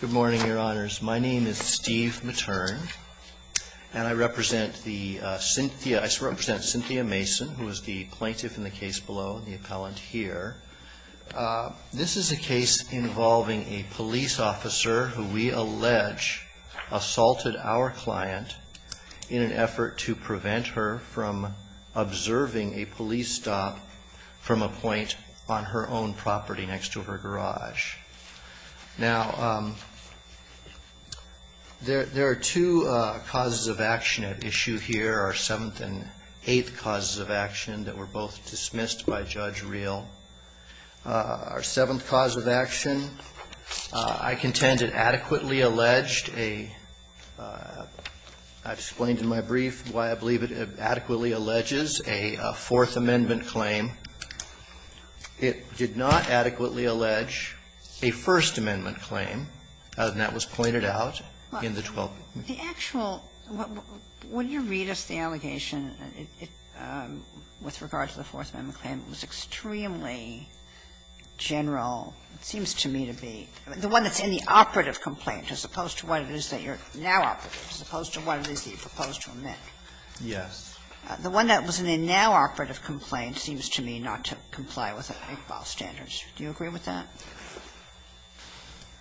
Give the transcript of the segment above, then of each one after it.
Good morning, Your Honors. My name is Steve Materne, and I represent Cynthia Mason, who is the plaintiff in the case below and the appellant here. This is a case involving a police officer who we allege assaulted our client in an effort to prevent her from observing a police stop from a point on her own property next to her garage. Now, there are two causes of action at issue here, our seventh and eighth causes of action that were both dismissed by Judge Reel. Our seventh cause of action, I contend it adequately alleged a, I explained in my brief why I believe it adequately alleges a Fourth Amendment claim. It did not adequately allege a First Amendment claim, and that was pointed out in the 12th. The actual, when you read us the allegation, with regard to the Fourth Amendment claim, it was extremely general. It seems to me to be the one that's in the operative complaint, as opposed to what it is that you're now operating, as opposed to what it is that you propose to omit. Yes. The one that was in the now operative complaint seems to me not to comply with Iqbal's standards. Do you agree with that?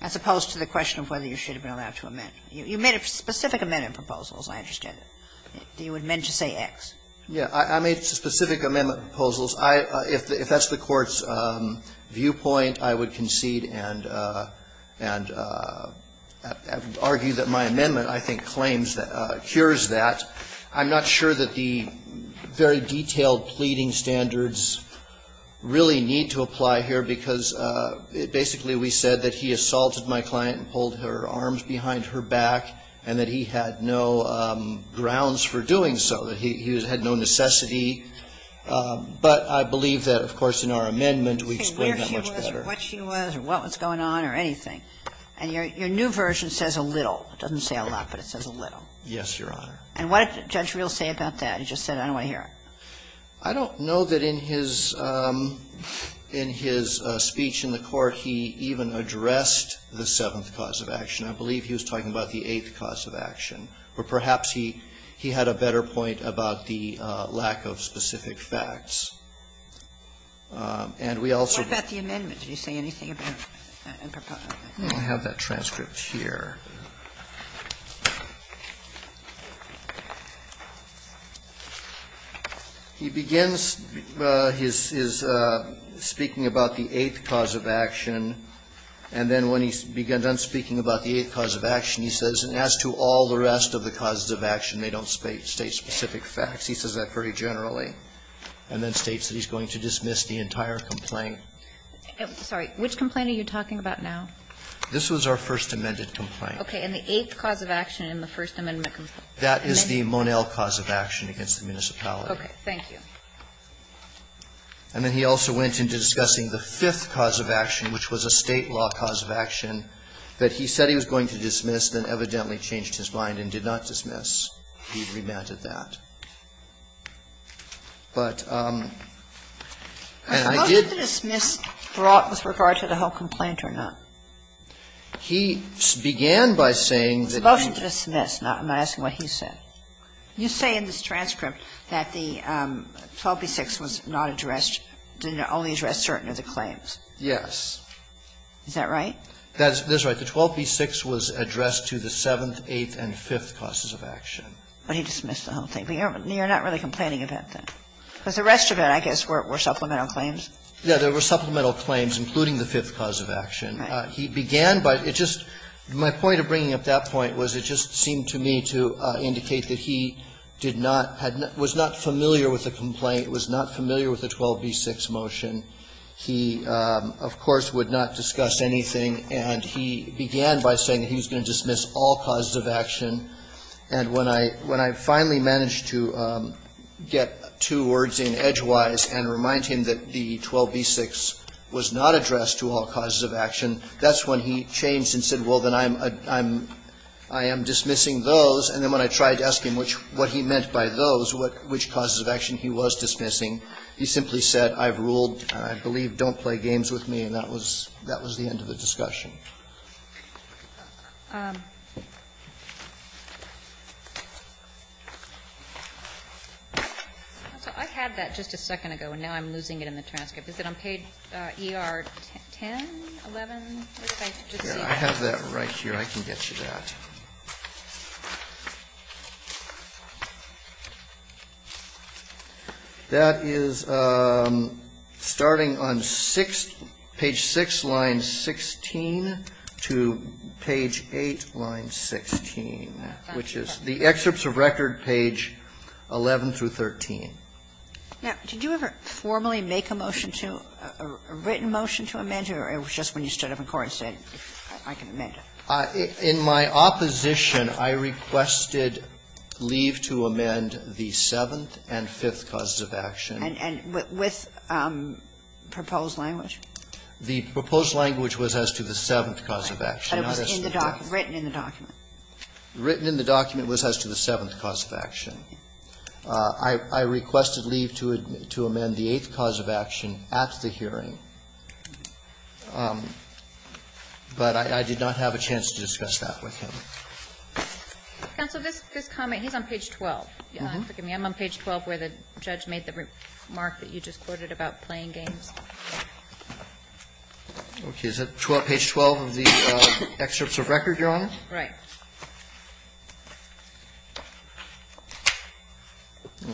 As opposed to the question of whether you should have been allowed to omit. You made specific amendment proposals, I understand. You would mean to say X. Yeah. I made specific amendment proposals. If that's the Court's viewpoint, I would concede and argue that my amendment, I think, claims that, cures that. I'm not sure that the very detailed pleading standards really need to apply here, because basically we said that he assaulted my client and pulled her arms behind her back, and that he had no grounds for doing so, that he had no necessity. But I believe that, of course, in our amendment, we explained that much better. Where she was or what she was or what was going on or anything. And your new version says a little. It doesn't say a lot, but it says a little. Yes, Your Honor. And what did Judge Reel say about that? He just said, I don't want to hear it. I don't know that in his speech in the Court he even addressed the seventh cause of action. I believe he was talking about the eighth cause of action. Or perhaps he had a better point about the lack of specific facts. And we also don't have that transcript here. He begins his speaking about the eighth cause of action, and then when he's done speaking about the eighth cause of action, he says, and as to all the rest of the causes of action, they don't state specific facts. He says that very generally, and then states that he's going to dismiss the entire complaint. Sorry. Which complaint are you talking about now? This was our first amended complaint. Okay. And the eighth cause of action in the First Amendment complaint. That is the Monell cause of action against the municipality. Okay. Thank you. And then he also went into discussing the fifth cause of action, which was a State law cause of action that he said he was going to dismiss, then evidently changed his mind and did not dismiss. He remanded that. But I did How did the dismiss brought with regard to the whole complaint or not? He began by saying that The motion is dismissed. I'm not asking what he said. You say in this transcript that the 12b-6 was not addressed, only addressed certain of the claims. Yes. Is that right? That's right. The 12b-6 was addressed to the seventh, eighth and fifth causes of action. But he dismissed the whole thing. But you're not really complaining about that. Because the rest of it, I guess, were supplemental claims. Yeah. There were supplemental claims, including the fifth cause of action. He began by My point of bringing up that point was it just seemed to me to indicate that he did not, was not familiar with the complaint, was not familiar with the 12b-6 motion. He, of course, would not discuss anything. And he began by saying that he was going to dismiss all causes of action. And when I finally managed to get two words in edgewise and remind him that the 12b-6 was not addressed to all causes of action, that's when he changed and said, well, then I'm, I'm, I am dismissing those. And then when I tried to ask him which, what he meant by those, which causes of action he was dismissing, he simply said, I've ruled, I believe, don't play games with me. And that was, that was the end of the discussion. So I had that just a second ago, and now I'm losing it in the transcript. Is it on page ER-10, 11, or did I just see it? Verrilli, I have that right here. I can get you that. That is starting on 6, page 6, line 16, to page 8, line 16, which is the excerpts of record page 11 through 13. Now, did you ever formally make a motion to, a written motion to amend, or it was just when you stood up in court and said, I can amend it? In my opposition, I requested leave to amend the seventh and fifth causes of action. And with proposed language? The proposed language was as to the seventh cause of action. But it was in the document, written in the document. I requested leave to amend the eighth cause of action at the hearing. But I did not have a chance to discuss that with him. Counsel, this comment, he's on page 12. Forgive me. I'm on page 12 where the judge made the remark that you just quoted about playing games. Okay. Is that 12, page 12 of the excerpts of record, Your Honor? Right.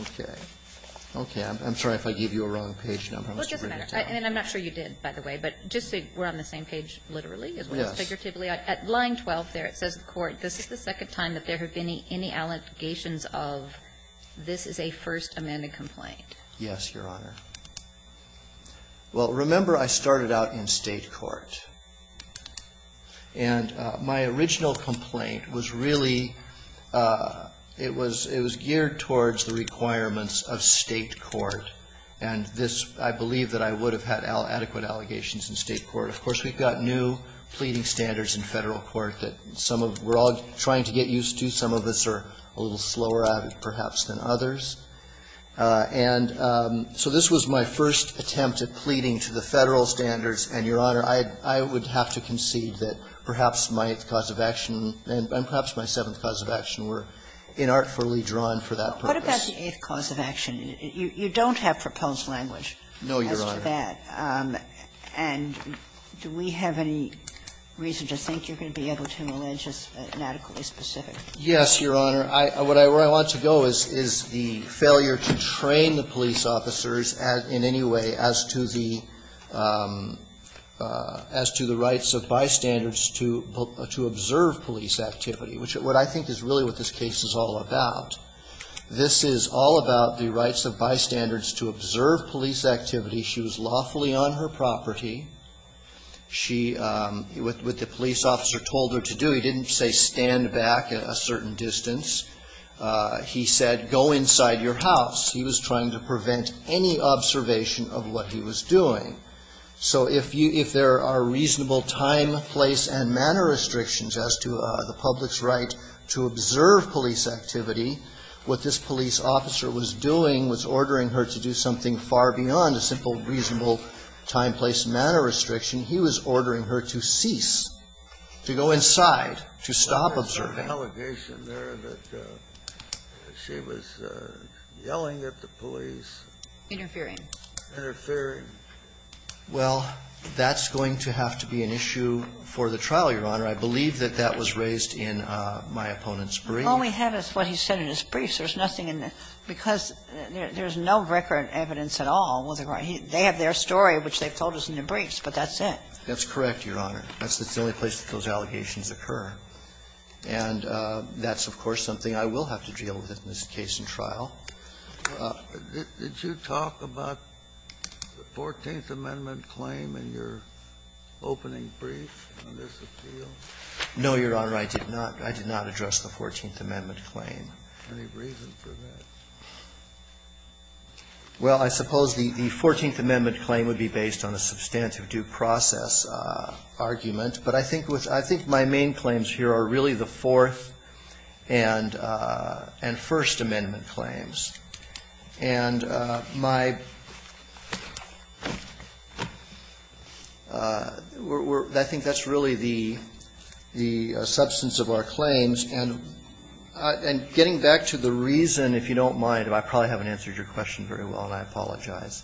Okay. Okay. I'm sorry if I gave you a wrong page number. I must have written it down. And I'm not sure you did, by the way. But just so we're on the same page literally, figuratively, at line 12 there, it says in court, this is the second time that there have been any allegations of this is a First Amendment complaint. Yes, Your Honor. Well, remember, I started out in State court. And my original complaint was really, it was geared towards the requirements of State court. And this, I believe that I would have had adequate allegations in State court. Of course, we've got new pleading standards in Federal court that some of, we're all trying to get used to. Some of us are a little slower at it, perhaps, than others. And so this was my first attempt at pleading to the Federal standards. And, Your Honor, I would have to concede that perhaps my cause of action and perhaps my seventh cause of action were inartfully drawn for that purpose. What about the eighth cause of action? You don't have proposed language as to that. No, Your Honor. And do we have any reason to think you're going to be able to allege us inadequately specific? Yes, Your Honor. Where I want to go is the failure to train the police officers in any way as to the rights of bystanders to observe police activity, which is what I think is really what this case is all about. This is all about the rights of bystanders to observe police activity. She was lawfully on her property. She, what the police officer told her to do, he didn't say stand back a certain distance. He said go inside your house. He was trying to prevent any observation of what he was doing. So if you, if there are reasonable time, place and manner restrictions as to the public's right to observe police activity, what this police officer was doing was ordering her to do something far beyond a simple reasonable time, place, manner restriction. He was ordering her to cease, to go inside, to stop observing. There was an allegation there that she was yelling at the police. Interfering. Interfering. Well, that's going to have to be an issue for the trial, Your Honor. I believe that that was raised in my opponent's brief. All we have is what he said in his brief. There's nothing in there. Because there's no record evidence at all. They have their story, which they've told us in their briefs, but that's it. That's correct, Your Honor. That's the only place that those allegations occur. And that's, of course, something I will have to deal with in this case and trial. Did you talk about the 14th Amendment claim in your opening brief on this appeal? No, Your Honor. I did not. I did not address the 14th Amendment claim. Any reason for that? Well, I suppose the 14th Amendment claim would be based on a substantive due process argument. But I think my main claims here are really the Fourth and First Amendment claims. And my ‑‑ I think that's really the substance of our claims. And getting back to the reason, if you don't mind, I probably haven't answered your question very well, and I apologize.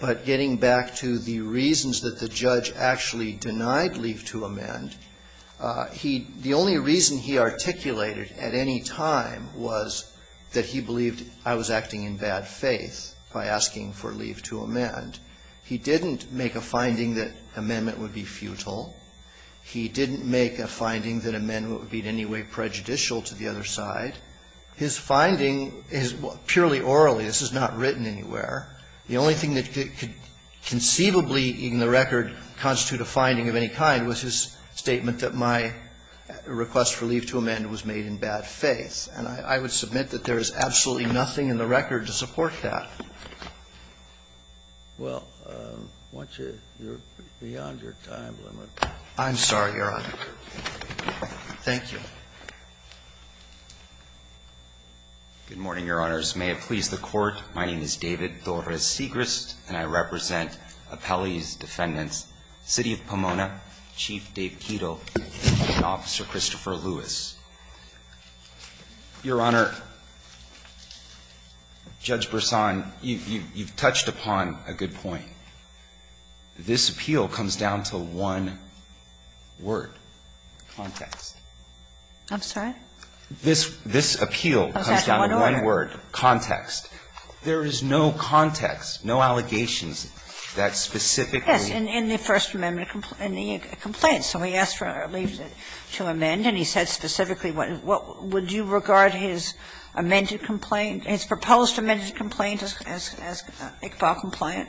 But getting back to the reasons that the judge actually denied leave to amend, the only reason he articulated at any time was that he believed I was acting in bad faith by asking for leave to amend. He didn't make a finding that amendment would be futile. He didn't make a finding that amendment would be in any way prejudicial to the other side. His finding is purely orally. This is not written anywhere. The only thing that could conceivably in the record constitute a finding of any kind was his statement that my request for leave to amend was made in bad faith. And I would submit that there is absolutely nothing in the record to support that. Well, once you're beyond your time limit. I'm sorry, Your Honor. Thank you. Good morning, Your Honors. May it please the Court. My name is David Torres Segrist, and I represent Appellee's Defendants, City of Pomona, Chief Dave Keedle, and Officer Christopher Lewis. Your Honor, Judge Berson, you've touched upon a good point. This appeal comes down to one word, context. I'm sorry? This appeal comes down to one word, context. There is no context, no allegations that specifically. Yes, in the First Amendment complaint. So he asked for leave to amend, and he said specifically what would you regard his amended complaint, his proposed amended complaint as Iqbal compliant?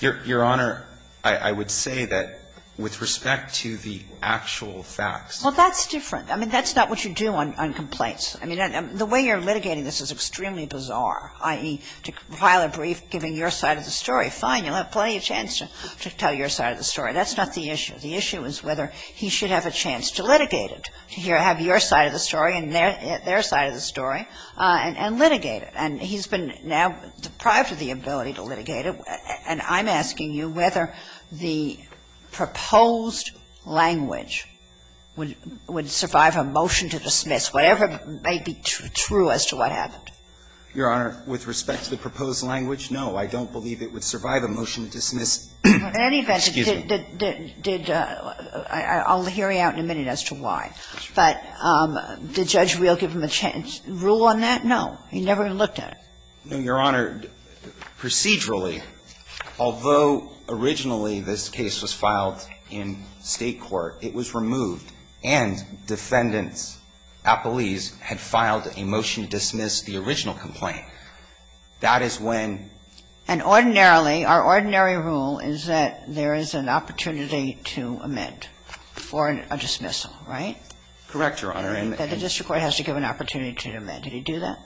Your Honor, I would say that with respect to the actual facts. Well, that's different. I mean, that's not what you do on complaints. I mean, the way you're litigating this is extremely bizarre, i.e., to file a brief giving your side of the story. Fine, you'll have plenty of chance to tell your side of the story. That's not the issue. The issue is whether he should have a chance to litigate it, to have your side of the story and their side of the story and litigate it. And he's been now deprived of the ability to litigate it, and I'm asking you whether the proposed language would survive a motion to dismiss, whatever may be true as to what happened. Your Honor, with respect to the proposed language, no. I don't believe it would survive a motion to dismiss. In any event, did the – I'll hear you out in a minute as to why. But did Judge Reel give him a chance? Rule on that? No. He never looked at it. No, Your Honor. Procedurally, although originally this case was filed in State court, it was removed and defendants, appellees, had filed a motion to dismiss the original complaint. That is when – And ordinarily, our ordinary rule is that there is an opportunity to amend for a dismissal, right? Correct, Your Honor. And the district court has to give an opportunity to amend. Did he do that?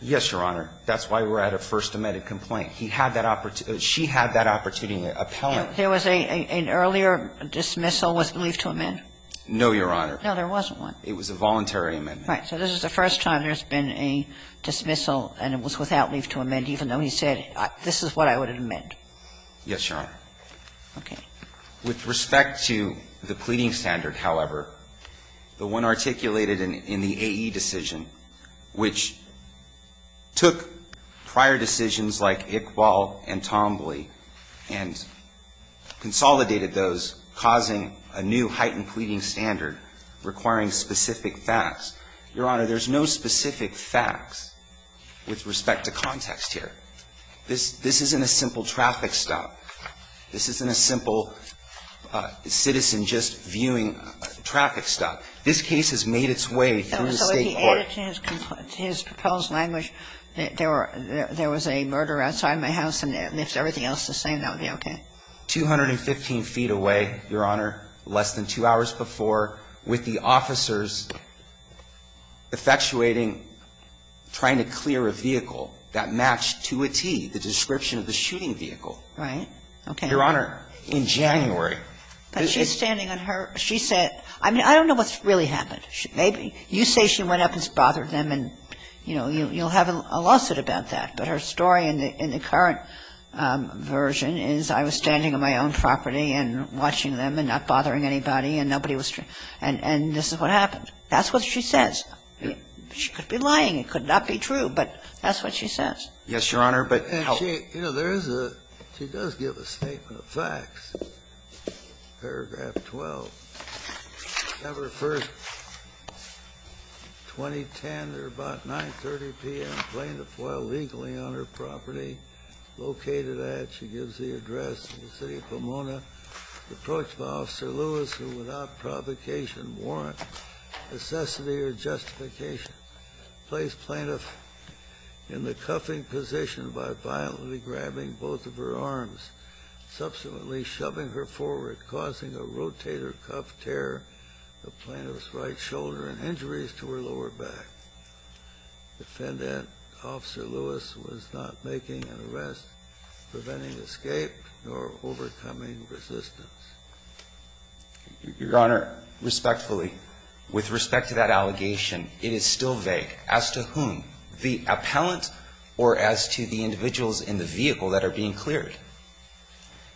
Yes, Your Honor. That's why we're at a first amended complaint. He had that – she had that opportunity, an appellant. There was an earlier dismissal with leave to amend? No, Your Honor. No, there wasn't one. It was a voluntary amendment. Right. So this is the first time there's been a dismissal and it was without leave to amend, even though he said, this is what I would amend. Yes, Your Honor. Okay. With respect to the pleading standard, however, the one articulated in the AE decision, which took prior decisions like Iqbal and Tombley and consolidated those, causing a new heightened pleading standard requiring specific facts, Your Honor, there's no specific facts with respect to context here. This isn't a simple traffic stop. This isn't a simple citizen just viewing a traffic stop. This case has made its way through the State court. With respect to his proposed language, there was a murder outside my house, and if everything else is the same, that would be okay? 215 feet away, Your Honor, less than two hours before, with the officers effectuating trying to clear a vehicle that matched to a T, the description of the shooting vehicle. Right. Okay. Your Honor, in January. But she's standing on her – she said – I mean, I don't know what really happened. Maybe you say she went up and bothered them and, you know, you'll have a lawsuit about that, but her story in the current version is I was standing on my own property and watching them and not bothering anybody and nobody was – and this is what happened. That's what she says. She could be lying. It could not be true, but that's what she says. Yes, Your Honor, but how – Okay. You know, there is a – she does give a statement of facts, paragraph 12. December 1, 2010, at about 9.30 p.m., a plaintiff while legally on her property, located at, she gives the address, the City of Pomona, approached by Officer Lewis who, without provocation, warrant, necessity or justification, placed plaintiff in the cuffing position by violently grabbing both of her arms, subsequently shoving her forward, causing a rotator cuff tear, the plaintiff's right shoulder, and injuries to her lower back. Defendant Officer Lewis was not making an arrest, preventing escape, nor overcoming resistance. Your Honor, respectfully, with respect to that allegation, it is still vague as to whom, the appellant or as to the individuals in the vehicle that are being cleared.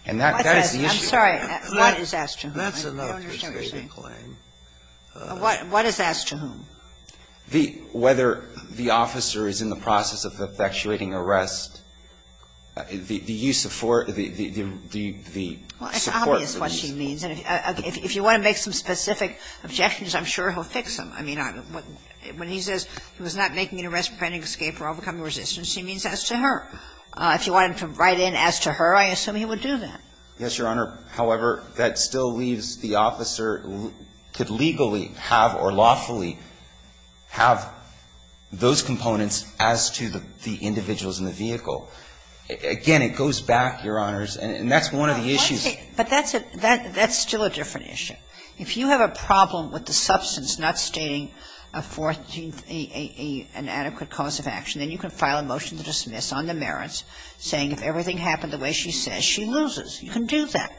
And that is the issue. I'm sorry. What is asked to whom? I don't understand what you're saying. That's an understated claim. What is asked to whom? Whether the officer is in the process of effectuating arrest, the use of force, the support for this. Well, it's obvious what she means. If you want to make some specific objections, I'm sure he'll fix them. I mean, when he says he was not making an arrest, preventing escape, or overcoming resistance, he means as to her. If you want him to write in as to her, I assume he would do that. Yes, Your Honor. However, that still leaves the officer could legally have or lawfully have those components as to the individuals in the vehicle. Again, it goes back, Your Honors, and that's one of the issues. But that's a – that's still a different issue. If you have a problem with the substance not stating a fourth, an adequate cause of action, then you can file a motion to dismiss on the merits saying if everything happened the way she says, she loses. You can do that.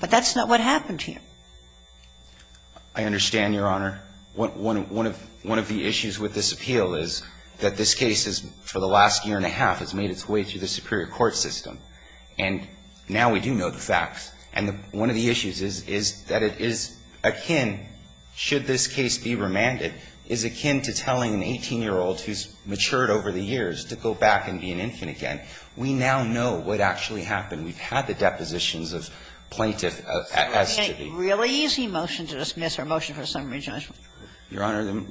But that's not what happened here. I understand, Your Honor. One of the issues with this appeal is that this case is, for the last year and a half, has made its way through the superior court system. And now we do know the facts. And one of the issues is, is that it is akin, should this case be remanded, is akin to telling an 18-year-old who's matured over the years to go back and be an infant again. We now know what actually happened. We've had the depositions of plaintiff as to be. So is it a really easy motion to dismiss or motion for summary judgment? Your Honor,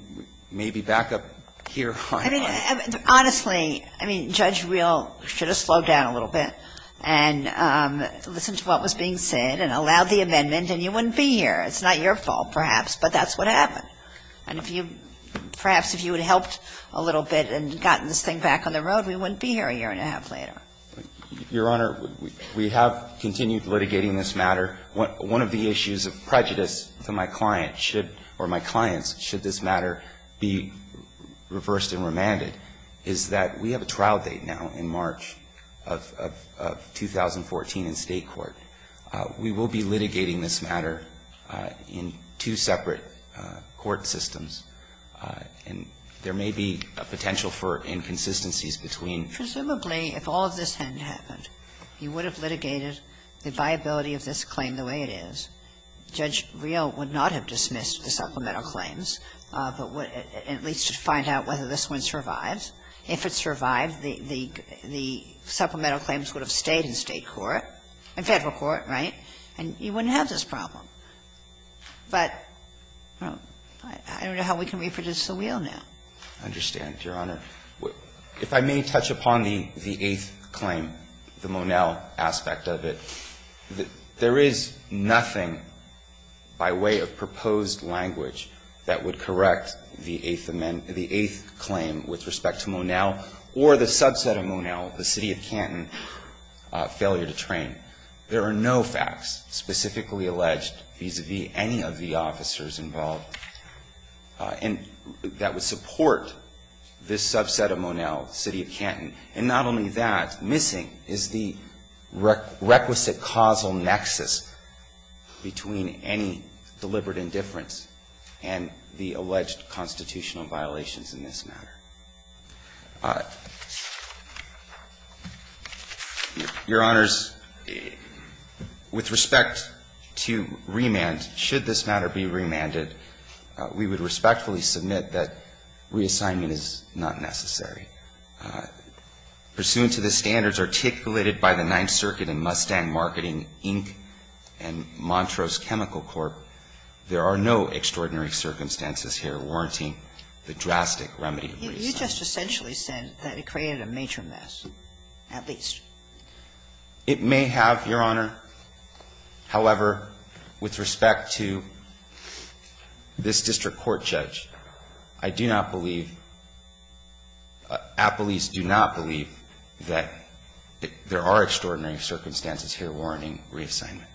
maybe back up here. I mean, honestly, I mean, Judge Reel should have slowed down a little bit and listened to what was being said and allowed the amendment and you wouldn't be here. It's not your fault, perhaps, but that's what happened. And if you, perhaps if you had helped a little bit and gotten this thing back on the road, we wouldn't be here a year and a half later. Your Honor, we have continued litigating this matter. One of the issues of prejudice to my client should, or my clients, should this matter be reversed and remanded is that we have a trial date now in March of 2014 in State Court. We will be litigating this matter in two separate court systems. And there may be a potential for inconsistencies between the two. Presumably, if all of this hadn't happened, you would have litigated the viability of this claim the way it is. Judge Reel would not have dismissed the supplemental claims, but would at least find out whether this one survives. If it survived, the supplemental claims would have stayed in State court. In Federal court, right? And you wouldn't have this problem. But I don't know how we can reproduce the wheel now. I understand, Your Honor. If I may touch upon the eighth claim, the Monell aspect of it. There is nothing by way of proposed language that would correct the eighth claim with respect to Monell or the subset of Monell, the City of Canton, failure to train. There are no facts specifically alleged vis-à-vis any of the officers involved that would support this subset of Monell, City of Canton. And not only that, missing is the requisite causal nexus between any deliberate indifference and the alleged constitutional violations in this matter. Your Honors, with respect to remand, should this matter be remanded, we would respectfully submit that reassignment is not necessary. Pursuant to the standards articulated by the Ninth Circuit in Mustang Marketing Inc. and Montrose Chemical Corp., there are no extraordinary circumstances here warranting the drastic remedy of reassignment. You just essentially said that it created a major mess, at least. It may have, Your Honor. However, with respect to this district court judge, I do not believe at least do not believe that there are extraordinary circumstances here warranting reassignment.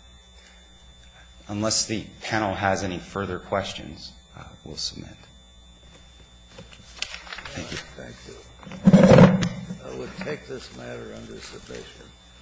Unless the panel has any further questions, we'll submit. Thank you. Thank you. I will take this matter under submission.